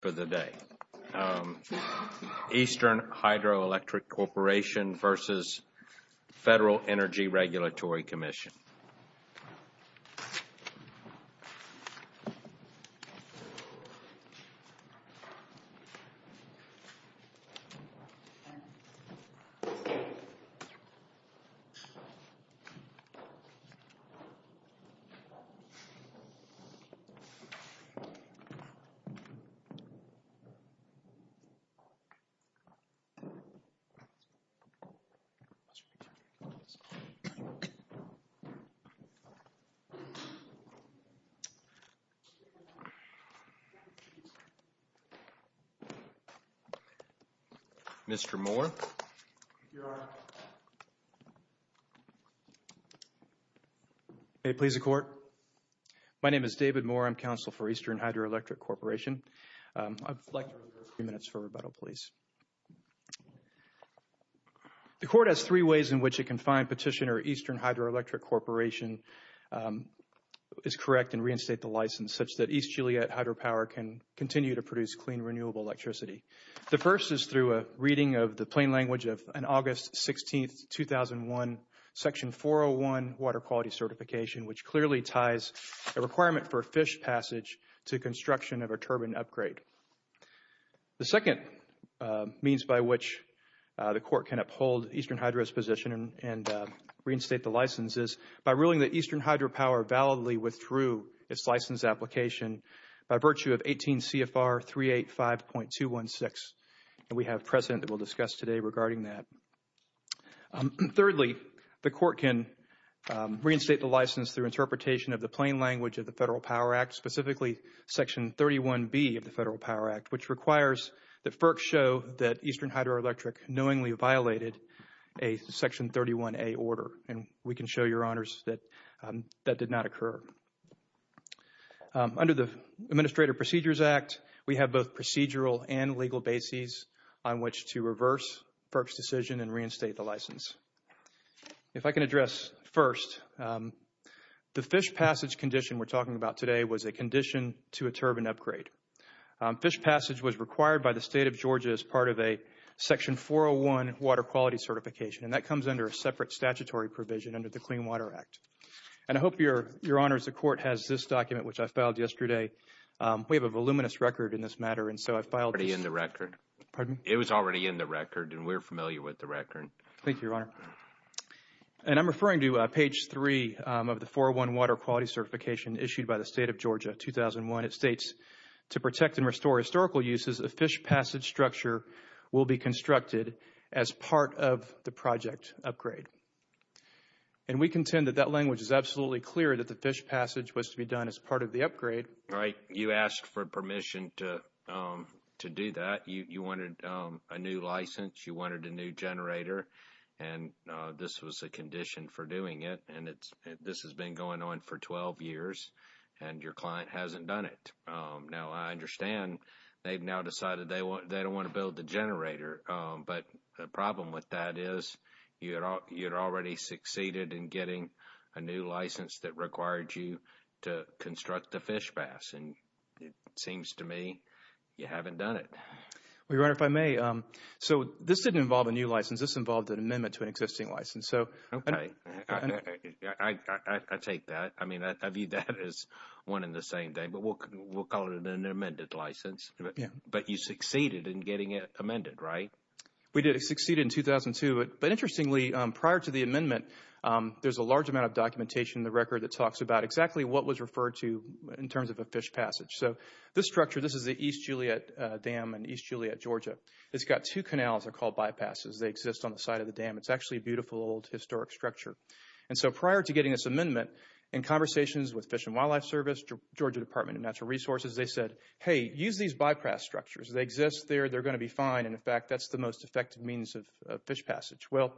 for the day. Eastern Hydroelectric Corporation versus Federal Energy Regulatory Commission. Mr. Moore. Here I am. May it please the court. My name is David Moore. I'm counsel for Eastern Hydroelectric Corporation. I'd like to reserve a few minutes for rebuttal, please. The court has three ways in which it can find petitioner Eastern Hydroelectric Corporation is correct and reinstate the license such that East Joliet Hydropower can continue to produce clean, renewable electricity. The first is through a reading of the plain language of an August 16, 2001, Section 401 water quality certification, which clearly ties a requirement for a fish passage to construction of a turbine upgrade. The second means by which the court can uphold Eastern Hydro's position and reinstate the license is by ruling that Eastern Hydropower validly withdrew its license application by virtue of 18 CFR 385.216. And we have precedent that we'll discuss today regarding that. Thirdly, the court can reinstate the license through interpretation of the plain language of the Federal Power Act, specifically Section 31B of the Federal Power Act, which requires that FERC show that Eastern Hydroelectric knowingly violated a Section 31A order. And we can show your honors that that did not occur. Under the Administrative Procedures Act, we have both procedural and legal bases on which to reverse FERC's decision and reinstate the license. If I can address first, the fish passage condition we're talking about today was a condition to a turbine upgrade. Fish passage was required by the state of Georgia as part of a Section 401 water quality certification, and that comes under a separate statutory provision under the Clean Water Act. And I hope your your honors, the court has this document, which I filed yesterday. We have a voluminous record in this matter. And so I filed it in the record. Pardon? It was already in the record, and we're familiar with the record. Thank you, your honor. And I'm referring to page three of the 401 water quality certification issued by the state of Georgia, 2001. It states, to protect and restore historical uses, a fish passage structure will be constructed as part of the project upgrade. And we contend that that language is absolutely clear that the fish passage was to be done as part of the upgrade. Right. You asked for permission to do that. You wanted a new license. You wanted a new generator. And this was a condition for doing it. And it's this has been going on for 12 years and your client hasn't done it. Now, I understand they've now decided they want they don't want to build the generator. But the problem with that is you're you're already succeeded in getting a new license that required you to construct the fish pass. And it seems to me you haven't done it. We run if I may. So this didn't involve a new license. This involved an amendment to an existing license. So I take that. I mean, I view that as one in the same day, but we'll we'll call it an amended license. But you succeeded in getting it amended, right? We did succeed in 2002. But interestingly, prior to the amendment, there's a large amount of documentation in the record that talks about exactly what was referred to in terms of a fish passage. So this structure, this is the East Juliet Dam in East Juliet, Georgia. It's got two canals are called bypasses. They exist on the side of the dam. It's actually a beautiful old historic structure. And so prior to getting this amendment and conversations with Fish and Wildlife Service, Georgia Department of Natural Resources, they said, hey, use these bypass structures. They exist there. They're going to be fine. And in fact, that's the most effective means of fish passage. Well,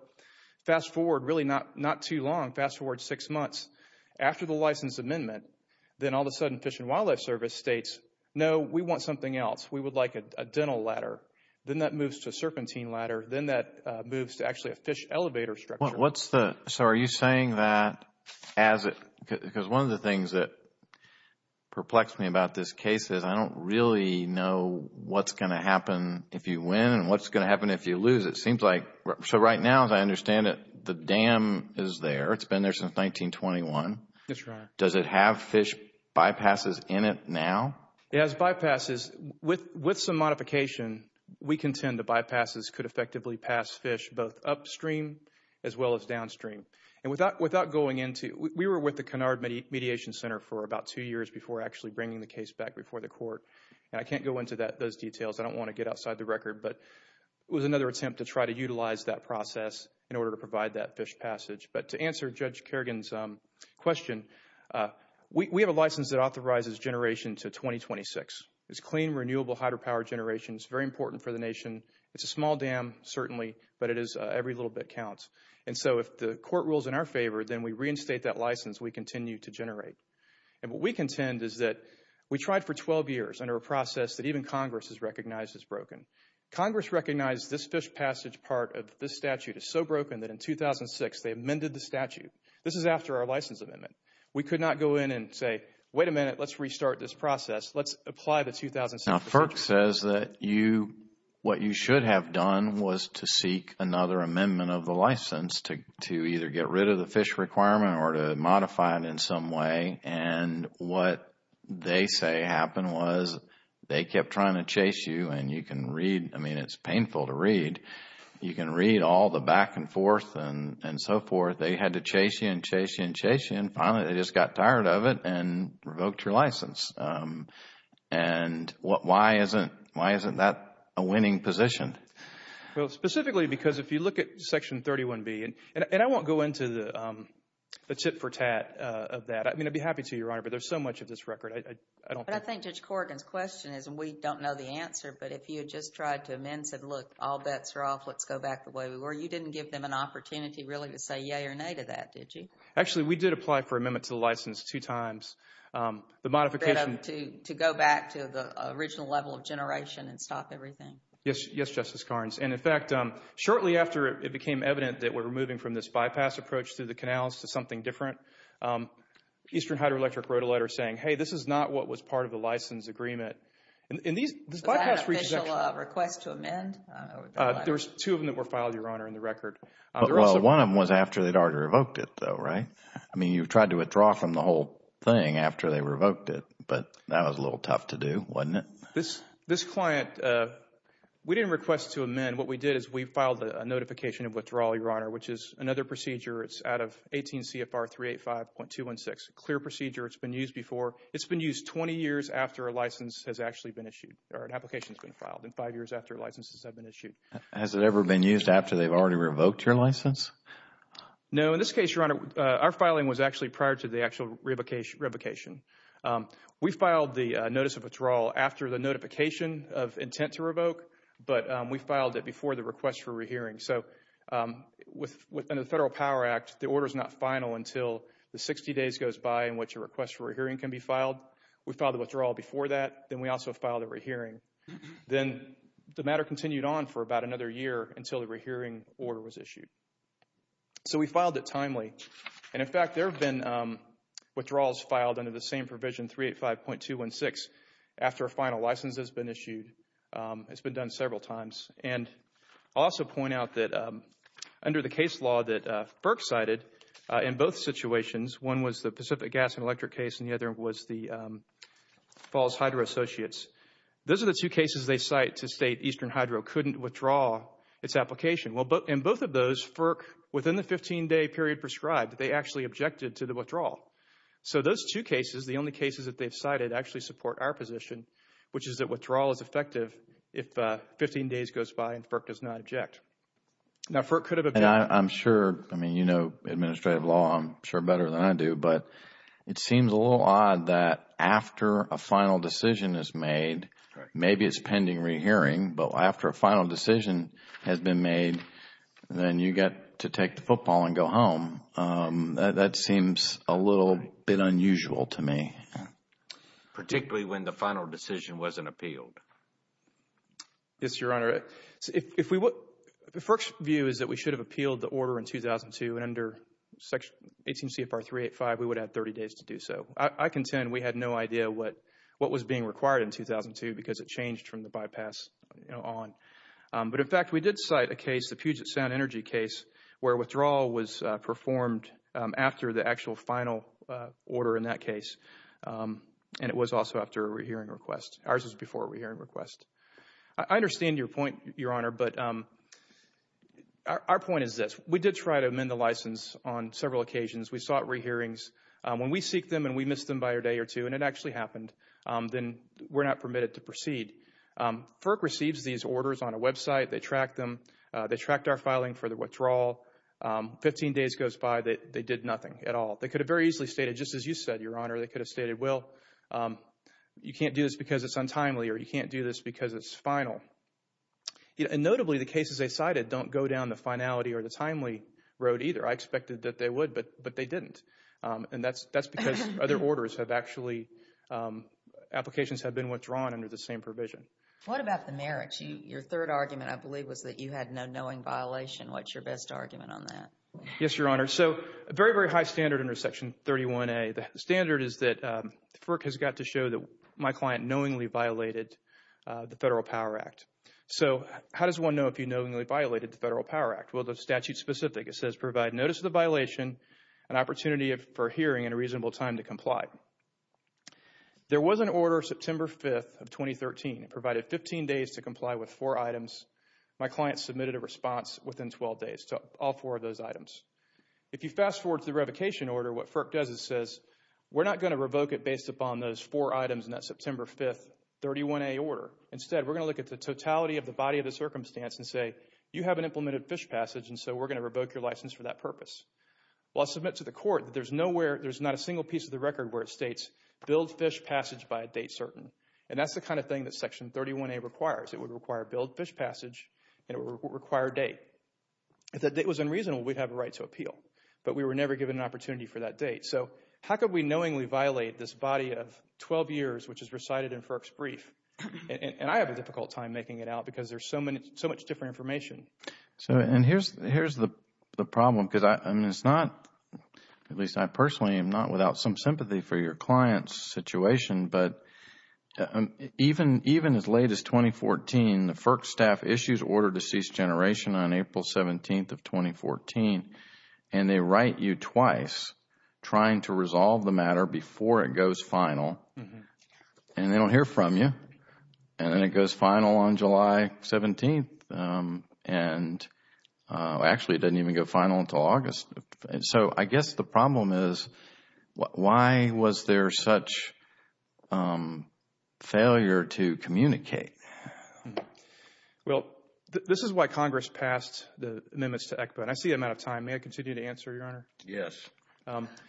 fast forward, really not not too long. Fast forward six months after the license amendment, then all of a sudden Fish and Wildlife Service states, no, we want something else. We would like a dental ladder. Then that moves to a serpentine ladder. Then that moves to actually a fish elevator structure. Well, what's the so are you saying that as it because one of the things that perplexed me about this case is I don't really know what's going to happen if you win and what's going to happen if you lose. It seems like so right now, as I understand it, the dam is there. It's been there since 1921. That's right. Does it have fish bypasses in it now? It has bypasses with with some modification, we contend the bypasses could effectively pass fish both upstream as well as downstream. And without without going into we were with the Cunard Mediation Center for about two years before actually bringing the case back before the court. And I can't go into that those details. I don't want to get outside the record. But it was another attempt to try to utilize that process in order to provide that fish passage. But to answer Judge Kerrigan's question, we have a license that authorizes generation to 2026. It's clean, renewable hydropower generation is very important for the nation. It's a small dam, certainly, but it is every little bit counts. And so if the court rules in our favor, then we reinstate that license. We continue to generate. And what we contend is that we tried for 12 years under a process that even Congress has recognized as broken. Congress recognized this fish passage part of this statute is so broken that in 2006, they amended the statute. This is after our license amendment. We could not go in and say, wait a minute, let's restart this process. Let's apply the 2006. Now, FERC says that you what you should have done was to seek another amendment of the license to to either get rid of the fish requirement or to modify it in some way. And what they say happened was they kept trying to chase you and you can read. I mean, it's painful to read. You can read all the back and forth and so forth. They had to chase you and chase you and chase you. And finally, they just got tired of it and revoked your license. And why isn't why isn't that a winning position? Well, specifically, because if you look at Section 31B and I won't go into the tit for tat of that, I mean, I'd be happy to, Your Honor, but there's so much of this record. I don't think Judge Corrigan's question is and we don't know the answer. But if you had just tried to amend said, look, all bets are off. Let's go back the way we were. You didn't give them an opportunity really to say yay or nay to that, did you? Actually, we did apply for amendment to the license two times. The modification to go back to the original level of generation and stop everything. Yes, yes, Justice Carnes. And in fact, shortly after it became evident that we're moving from this bypass approach to the canals to something different, Eastern Hydroelectric wrote a letter saying, hey, this is not what was part of the license agreement. Was that an official request to amend? There was two of them that were filed, Your Honor, in the record. Well, one of them was after they'd already revoked it though, right? I mean, you've tried to withdraw from the whole thing after they revoked it. But that was a little tough to do, wasn't it? This client, we didn't request to amend. What we did is we filed a notification of withdrawal, Your Honor, which is another procedure. It's out of 18 CFR 385.216, a clear procedure. It's been used before. It's been used five years after a license has actually been issued, or an application has been filed, and five years after licenses have been issued. Has it ever been used after they've already revoked your license? No. In this case, Your Honor, our filing was actually prior to the actual revocation. We filed the notice of withdrawal after the notification of intent to revoke. But we filed it before the request for rehearing. So within the Federal Power Act, the order is not final until the 60 days goes by in which a request for a hearing can be filed. We filed the withdrawal before that. Then we also filed a rehearing. Then the matter continued on for about another year until the rehearing order was issued. So we filed it timely. And in fact, there have been withdrawals filed under the same provision, 385.216, after a final license has been issued. It's been done several times. And I'll also point out that under the case law that Burke cited, in both situations, one was the Pacific Gas and Electric case and the other was the Falls Hydro Associates, those are the two cases they cite to state Eastern Hydro couldn't withdraw its application. Well, in both of those, FERC, within the 15-day period prescribed, they actually objected to the withdrawal. So those two cases, the only cases that they've cited actually support our position, which is that withdrawal is effective if 15 days goes by and FERC does not object. Now, FERC could have objected. I'm sure, I mean, you know administrative law, I'm sure better than I do. But it seems a little odd that after a final decision is made, maybe it's pending rehearing, but after a final decision has been made, then you get to take the football and go home. That seems a little bit unusual to me. Particularly when the final decision wasn't appealed. Yes, Your Honor. If we would, if FERC's view is that we should have appealed the order in 2002, and under Section 18 CFR 385, we would have 30 days to do so. I contend we had no idea what was being required in 2002 because it changed from the bypass on. But in fact, we did cite a case, the Puget Sound Energy case, where withdrawal was performed after the actual final order in that case. And it was also after a rehearing request. Ours was before a rehearing request. I understand your point, Your Honor. But our point is this. We did try to amend the license on several occasions. We sought rehearings. When we seek them and we missed them by a day or two, and it actually happened, then we're not permitted to proceed. FERC receives these orders on a website. They track them. They tracked our filing for the withdrawal. Fifteen days goes by, they did nothing at all. You can't do this because it's untimely or you can't do this because it's final. And notably, the cases they cited don't go down the finality or the timely road either. I expected that they would, but they didn't. And that's because other orders have actually, applications have been withdrawn under the same provision. What about the merits? Your third argument, I believe, was that you had no knowing violation. What's your best argument on that? Yes, Your Honor. So a very, very high standard under Section 31A. The standard is that FERC has got to show that my client knowingly violated the Federal Power Act. So how does one know if you knowingly violated the Federal Power Act? Well, the statute's specific. It says, provide notice of the violation, an opportunity for hearing, and a reasonable time to comply. There was an order September 5th of 2013. It provided 15 days to comply with four items. My client submitted a response within 12 days to all four of those items. If you fast forward to the revocation order, what FERC does is says, we're not going to revoke it based upon those four items in that September 5th 31A order. Instead, we're going to look at the totality of the body of the circumstance and say, you haven't implemented fish passage, and so we're going to revoke your license for that purpose. Well, I submit to the Court that there's nowhere, there's not a single piece of the record where it states, build fish passage by a date certain. And that's the kind of thing that Section 31A requires. It would require build fish passage, and it would require a date. If that date was unreasonable, we'd have a right to appeal. But we were never given an opportunity for that date. So how could we knowingly violate this body of 12 years which is recited in FERC's brief? And I have a difficult time making it out because there's so much different information. So, and here's the problem, because I mean, it's not, at least I personally am not without some sympathy for your client's situation. But even as late as 2014, the FERC staff issues order to cease generation on April 17th of 2014, and they write you twice trying to resolve the matter before it goes final. And they don't hear from you, and then it goes final on July 17th. And actually, it doesn't even go final until August. So I guess the problem is, why was there such failure to communicate? Well, this is why Congress passed the amendments to ECPA. And I see I'm out of time. May I continue to answer, Your Honor? Yes,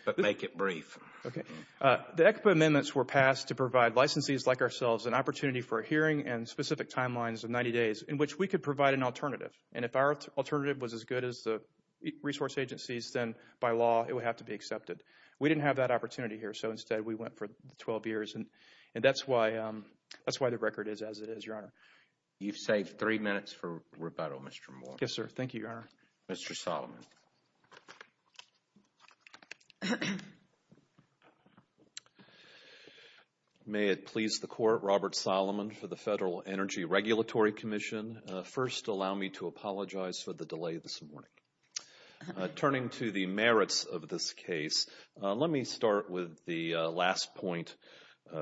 but make it brief. Okay. The ECPA amendments were passed to provide licensees like ourselves an opportunity for a hearing and specific timelines of 90 days in which we could provide an alternative. And if our alternative was as good as the resource agencies, then by law, it would have to be accepted. We didn't have that opportunity here. So instead, we went for 12 years. And that's why the record is as it is, Your Honor. You've saved three minutes for rebuttal, Mr. Moore. Yes, sir. Thank you, Your Honor. Mr. Solomon. May it please the Court, Robert Solomon for the Federal Energy Regulatory Commission. First, allow me to apologize for the delay this morning. Turning to the merits of this case, let me start with the last point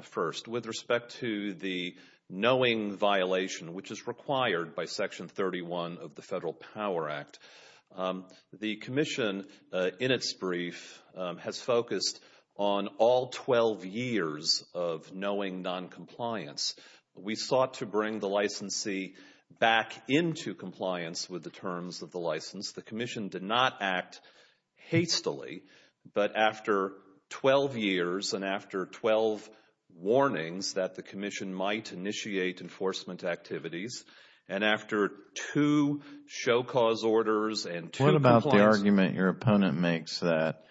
first. With respect to the knowing violation, which is required by Section 31 of the Federal Power Act, the Commission, in its brief, has focused on all 12 years of knowing noncompliance. We sought to bring the licensee back into compliance with the terms of the license. The Commission did not act hastily, but after 12 years and after 12 warnings that the Commission might initiate enforcement activities, and after two show cause orders and two complaints. What about the argument your opponent makes that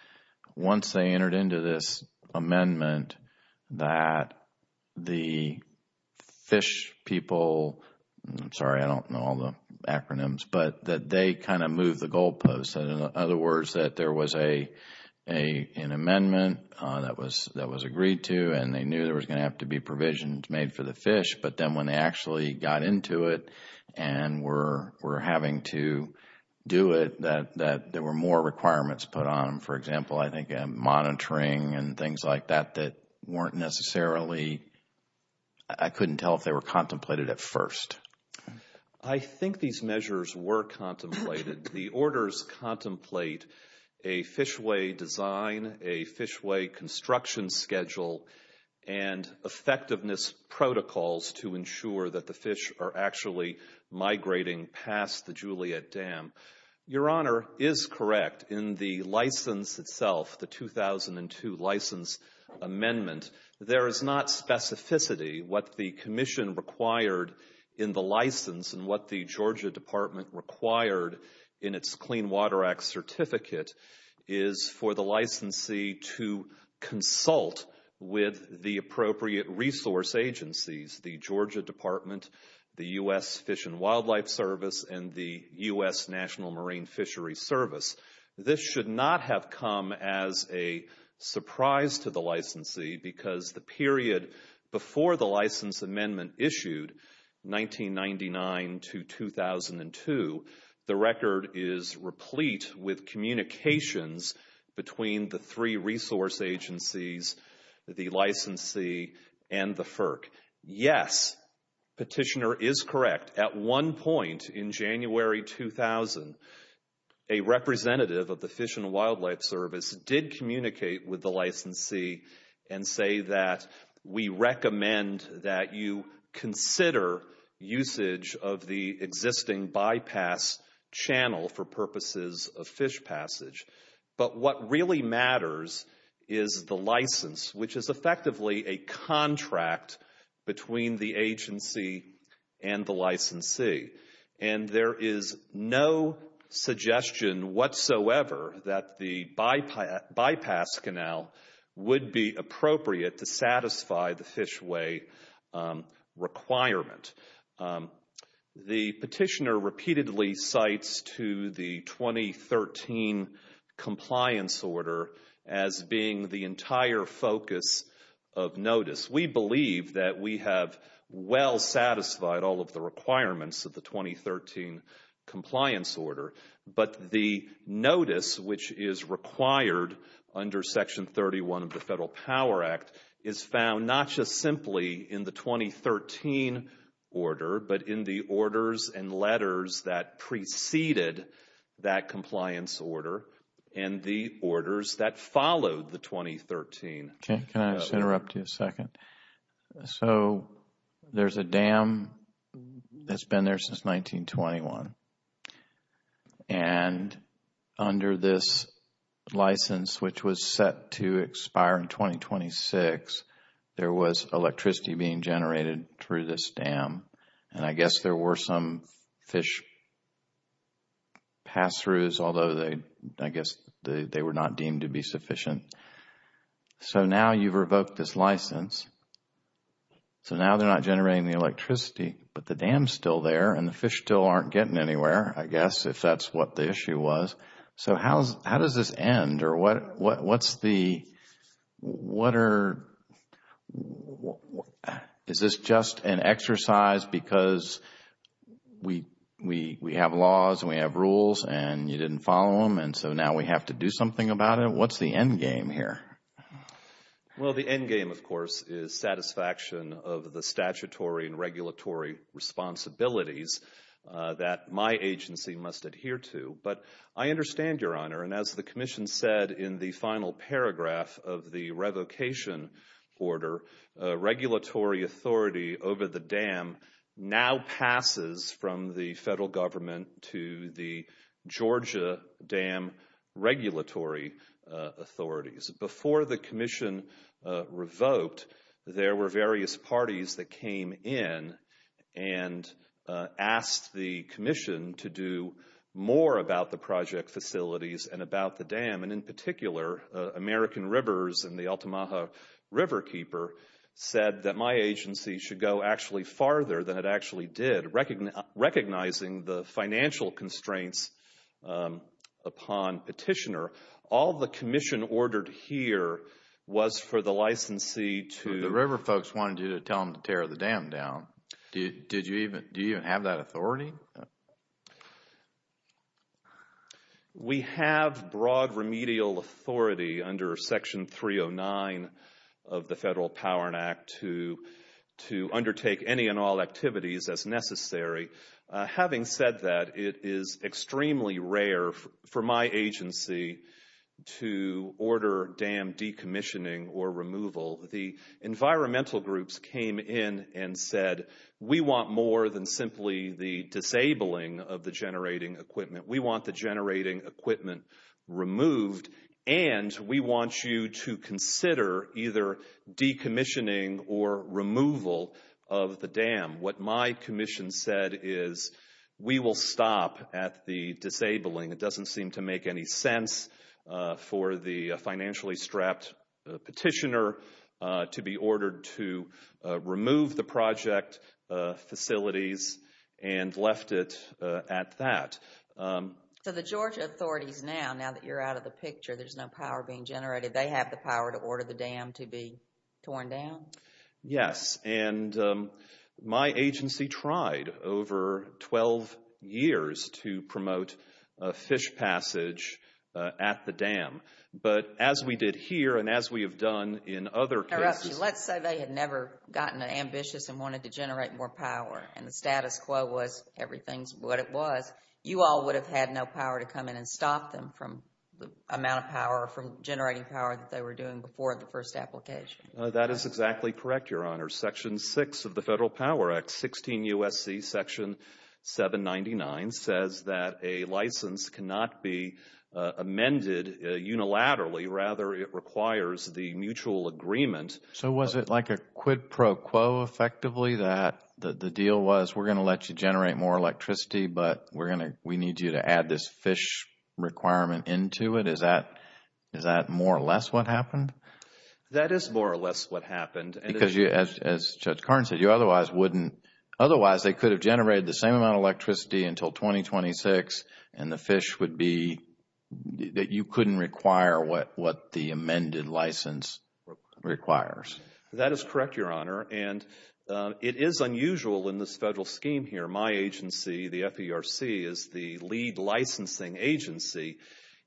once they entered into this amendment, that the FISH people, I'm sorry, I don't know all the acronyms, but that they kind of moved the goalposts. In other words, that there was an amendment that was agreed to, and they knew there was going to have to be provisions made for the FISH. But then when they actually got into it and were having to do it, there were more requirements put on. For example, I think monitoring and things like that that weren't necessarily, I couldn't tell if they were contemplated at first. I think these measures were contemplated. The orders contemplate a FISHway design, a FISHway construction schedule, and effectiveness protocols to ensure that the FISH are actually migrating past the Juliet Dam. Your Honor is correct. In the license itself, the 2002 license amendment, there is not specificity. What the Commission required in the license and what the Georgia Department required in its Clean Water Act certificate is for the licensee to consult with the appropriate resource agencies, the Georgia Department, the U.S. Fish and Wildlife Service, and the U.S. National Marine Fishery Service. This should not have come as a surprise to the licensee because the period before the license amendment issued, 1999 to 2002, the record is replete with communications between the three resource agencies, the licensee, and the FERC. Yes, Petitioner is correct. At one point in January 2000, a representative of the Fish and Wildlife Service did communicate with the licensee and say that we recommend that you consider usage of the existing bypass channel for purposes of fish passage. But what really matters is the license, which is effectively a contract between the agency and the licensee. And there is no suggestion whatsoever that the bypass canal would be appropriate to satisfy the fishway requirement. The Petitioner repeatedly cites to the 2013 compliance order as being the entire focus of notice. We believe that we have well satisfied all of the requirements of the 2013 compliance order, but the notice which is required under Section 31 of the Federal Power Act is found not just simply in the 2013 order, but in the orders and letters that preceded that compliance order and the orders that followed the 2013. Okay, can I just interrupt you a second? So there's a dam that's been there since 1921. And under this license, which was set to expire in 2026, there was electricity being generated through this dam. And I guess there were some fish pass-throughs, although I guess they were not deemed to be sufficient. So now you've revoked this license. So now they're not generating the electricity, but the dam's still there and the fish still aren't getting it. I guess if that's what the issue was. So how does this end? Or what's the, what are, is this just an exercise because we have laws and we have rules and you didn't follow them and so now we have to do something about it? What's the endgame here? Well, the endgame, of course, is satisfaction of the statutory and regulatory responsibilities that my agency must adhere to. But I understand, Your Honor, and as the Commission said in the final paragraph of the revocation order, regulatory authority over the dam now passes from the federal government to the Georgia Dam Regulatory Authorities. Before the Commission revoked, there were various parties that came in and asked the Commission to do more about the project facilities and about the dam. And in particular, American Rivers and the Altamaha Riverkeeper said that my agency should go actually farther than it actually did, recognizing the financial constraints upon petitioner. All the Commission ordered here was for the licensee to... The river folks wanted you to tell them to tear the dam down. Did you even, do you have that authority? We have broad remedial authority under Section 309 of the Federal Power Act to undertake any and all activities as necessary. Having said that, it is extremely rare for my agency to order dam decommissioning or removal. The environmental groups came in and said, we want more than simply the disabling of the generating equipment. We want the generating equipment removed. And we want you to consider either decommissioning or removal of the dam. What my Commission said is, we will stop at the disabling. It doesn't seem to make any sense for the financially strapped petitioner to be ordered to remove the project facilities and left it at that. So the Georgia authorities now, now that you're out of the picture, there's no power being generated, they have the power to order the dam to be torn down? Yes. And my agency tried over 12 years to promote a fish passage at the dam. But as we did here and as we have done in other cases. Let's say they had never gotten ambitious and wanted to generate more power and the status quo was everything's what it was. You all would have had no power to come in and stop them from the amount of power, from generating power that they were doing before the first application. That is exactly correct, Your Honor. Section 6 of the Federal Power Act, 16 U.S.C. Section 799, says that a license cannot be amended unilaterally. Rather, it requires the mutual agreement. So was it like a quid pro quo effectively that the deal was, we're going to let you generate more electricity, but we're going to, we need you to add this fish requirement into it? Is that, is that more or less what happened? That is more or less what happened. Because as Judge Carnes said, you otherwise wouldn't, otherwise they could have generated the same amount of electricity until 2026 and the fish would be, that you couldn't require what the amended license requires. That is correct, Your Honor. And it is unusual in this Federal scheme here. My agency, the FERC, is the lead licensing agency.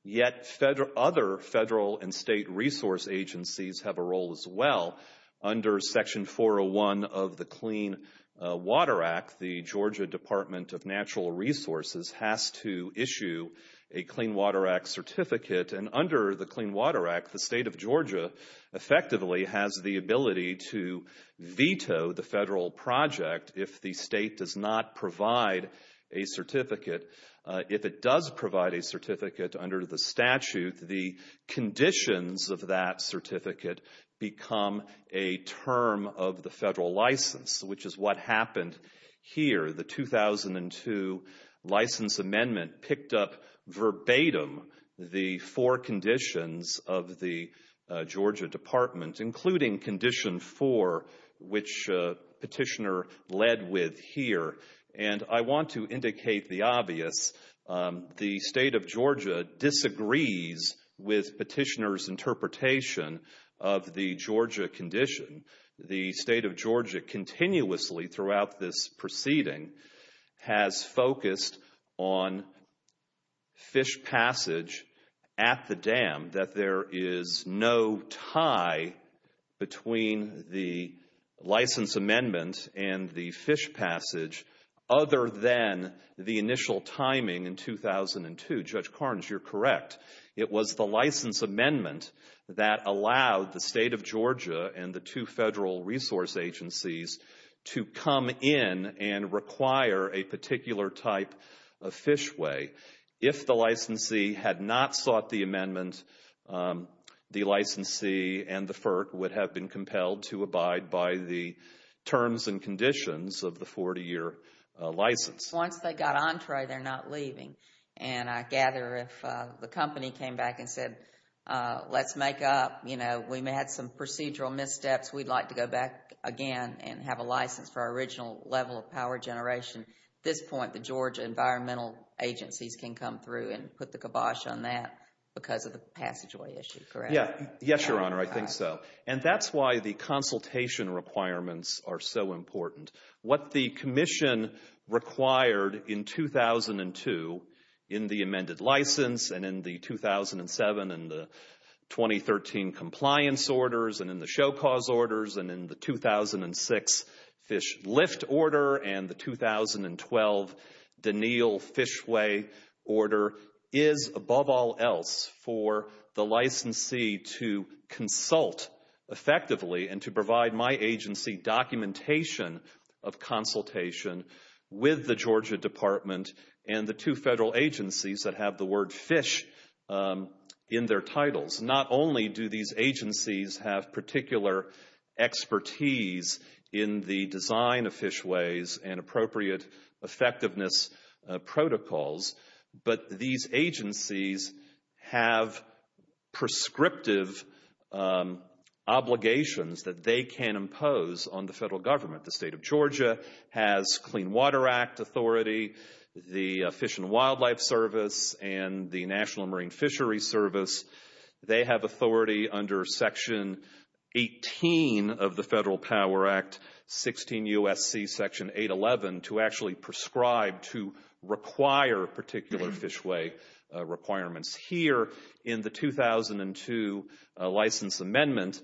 Yet other Federal and State resource agencies have a role as well under Section 401 of the Clean Water Act. The Georgia Department of Natural Resources has to issue a Clean Water Act certificate. And under the Clean Water Act, the State of Georgia effectively has the ability to veto the Federal project if the State does not provide a certificate. If it does provide a certificate under the statute, the conditions of that certificate become a term of the Federal license, which is what happened here. The 2002 License Amendment picked up verbatim the four conditions of the Georgia Department, including Condition 4, which Petitioner led with here. And I want to indicate the obvious. The State of Georgia disagrees with Petitioner's interpretation of the Georgia condition. The State of Georgia, continuously throughout this proceeding, has focused on fish passage at the dam, that there is no tie between the License Amendment and the fish passage other than the initial timing in 2002. Judge Carnes, you're correct. It was the License Amendment that allowed the State of Georgia and the two Federal resource agencies to come in and require a particular type of fishway. If the licensee had not sought the amendment, the licensee and the FERC would have been compelled to abide by the terms and conditions of the 40-year license. Once they got entree, they're not leaving. And I gather if the company came back and said, let's make up, you know, we had some procedural missteps, we'd like to go back again and have a license for our original level of power generation, at this point the Georgia environmental agencies can come through and put the kibosh on that because of the passageway issue, correct? Yeah, yes, Your Honor, I think so. And that's why the consultation requirements are so important. What the Commission required in 2002 in the amended license, and in the 2007 and the 2013 Compliance Orders, and in the Show Cause Orders, and in the 2006 Fish Lift Order, and the 2012 Deneal Fishway Order is, above all else, for the licensee to consult effectively and to provide my agency documentation of consultation with the Georgia Department and the two Federal agencies that have the word fish in their titles. Not only do these agencies have particular expertise in the design of fishways and appropriate effectiveness protocols, but these agencies have prescriptive obligations that they can impose on the Federal Government. The State of Georgia has Clean Water Act authority, the Fish and Wildlife Service, and the National Marine Fishery Service. They have authority under Section 18 of the Federal Power Act, 16 U.S.C. Section 811, to actually prescribe, to require particular fishway requirements. Here in the 2002 license amendment,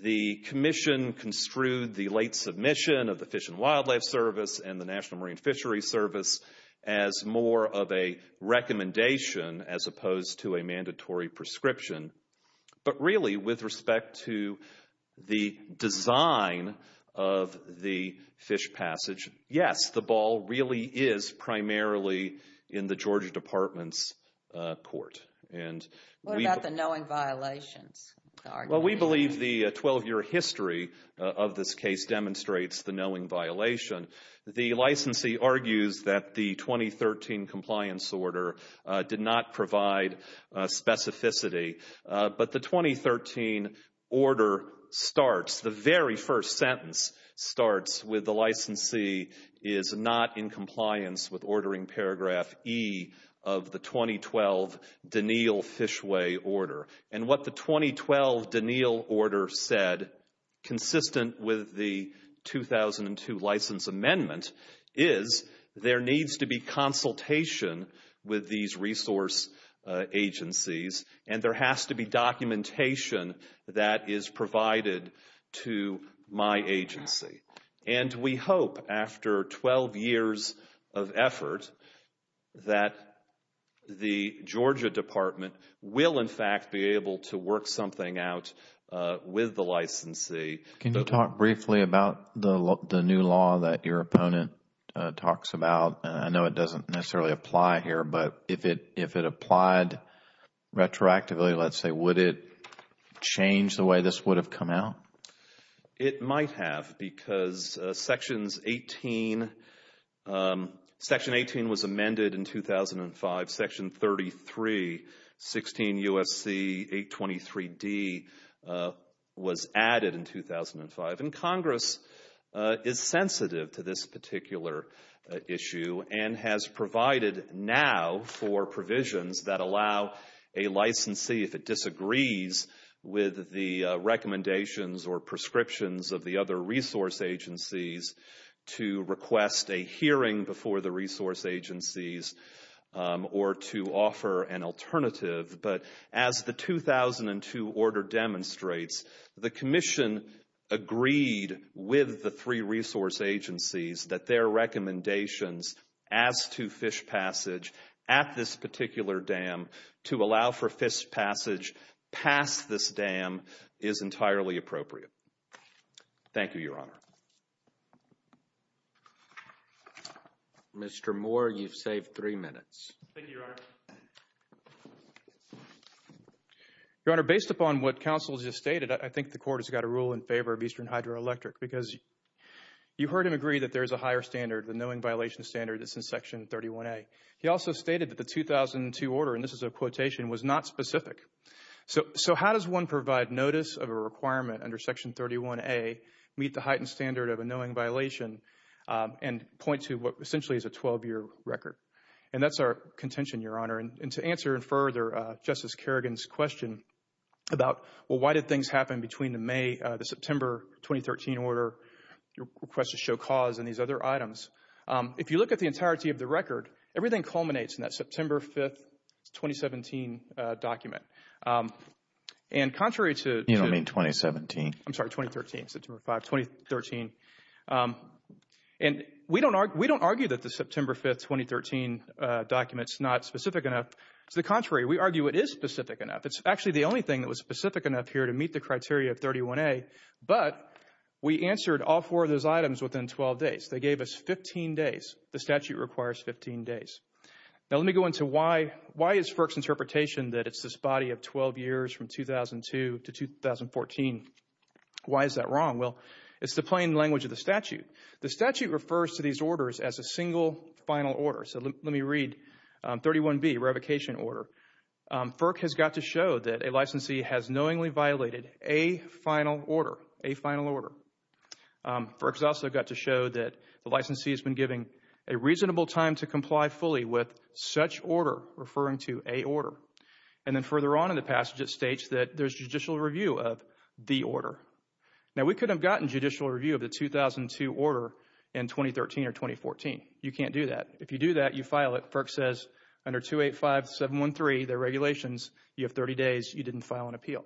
the Commission construed the late submission of the Fish and Wildlife Service and the National Marine Fishery Service as more of a recommendation as opposed to a mandatory prescription. But really, with respect to the design of the fish passage, yes, the ball really is primarily in the Georgia Department's court. What about the knowing violations? Well, we believe the 12-year history of this case demonstrates the knowing violation. The licensee argues that the 2013 compliance order did not provide specificity. But the 2013 order starts, the very first sentence starts with the licensee is not in compliance with ordering paragraph E of the 2012 Deneal fishway order. And what the 2012 Deneal order said, consistent with the 2002 license amendment, is there needs to be consultation with these resource agencies and there has to be documentation that is provided to my agency. And we hope after 12 years of effort that the Georgia Department will, in fact, be able to work something out with the licensee. Can you talk briefly about the new law that your opponent talks about? I know it doesn't necessarily apply here, but if it applied retroactively, let's say, would it change the way this would have come out? It might have because Sections 18 was amended in 2005. Section 33, 16 U.S.C. 823D was added in 2005. And Congress is sensitive to this particular issue and has provided now for provisions that allow a licensee, if it disagrees with the recommendations or prescriptions of the other resource agencies, to request a hearing before the resource agencies or to offer an alternative. But as the 2002 order demonstrates, the Commission agreed with the three resource agencies that their recommendations as to fish passage at this particular dam to allow for fish passage past this dam is entirely appropriate. Thank you, Your Honor. Mr. Moore, you've saved three minutes. Thank you, Your Honor. Your Honor, based upon what counsel just stated, I think the Court has got a rule in favor of Eastern Hydroelectric because you heard him agree that there is a higher standard, the knowing violation standard, that's in Section 31A. He also stated that the 2002 order, and this is a quotation, was not specific. So how does one provide notice of a requirement under Section 31A meet the heightened standard of a knowing violation and point to what essentially is a 12-year record? And that's our contention, Your Honor. And to answer further Justice Kerrigan's question about, well, why did things happen between the May, the September 2013 order, requests to show cause and these other items, if you look at the entirety of the record, everything culminates in that September 5th, 2017 document. And contrary to... You don't mean 2017? I'm sorry, 2013, September 5th, 2013. And we don't argue that the September 5th, 2013 document's not specific enough. To the contrary, we argue it is specific enough. It's actually the only thing that was specific enough here to meet the criteria of 31A. But we answered all four of those items within 12 days. They gave us 15 days. The statute requires 15 days. Now, let me go into why is FERC's interpretation that it's this body of 12 years from 2002 to 2014. Why is that wrong? Well, it's the plain language of the statute. The statute refers to these orders as a single final order. So let me read 31B, revocation order. FERC has got to show that a licensee has knowingly violated a final order, a final order. FERC's also got to show that the licensee has been giving a reasonable time to comply fully with such order, referring to a order. And then further on in the passage, it states that there's judicial review of the order. Now, we could have gotten judicial review of the 2002 order in 2013 or 2014. You can't do that. If you do that, you file it. FERC says under 285713, the regulations, you have 30 days. You didn't file an appeal.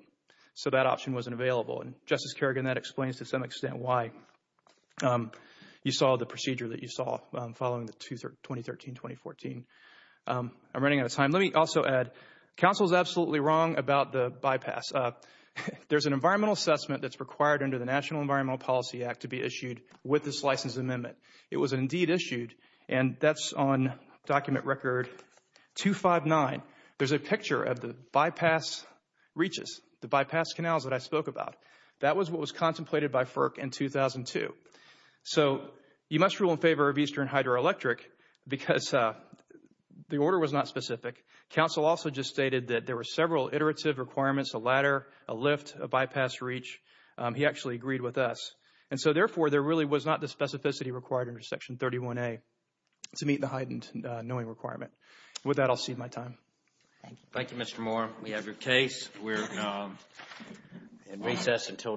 So that option wasn't available. And Justice Kerrigan, that explains to some extent why you saw the procedure that you saw following the 2013-2014. I'm running out of time. Let me also add, counsel is absolutely wrong about the bypass. There's an environmental assessment that's required under the National Environmental Policy Act to be issued with this license amendment. It was indeed issued. And that's on document record 259. There's a picture of the bypass reaches, the bypass canals that I spoke about. That was what was contemplated by FERC in 2002. So you must rule in favor of Eastern Hydroelectric because the order was not specific. Counsel also just stated that there were several iterative requirements, a ladder, a lift, a bypass reach. He actually agreed with us. And so therefore, there really was not the specificity required under Section 31A to meet the heightened knowing requirement. With that, I'll cede my time. Thank you, Mr. Moore. We have your case. We're in recess until tomorrow morning.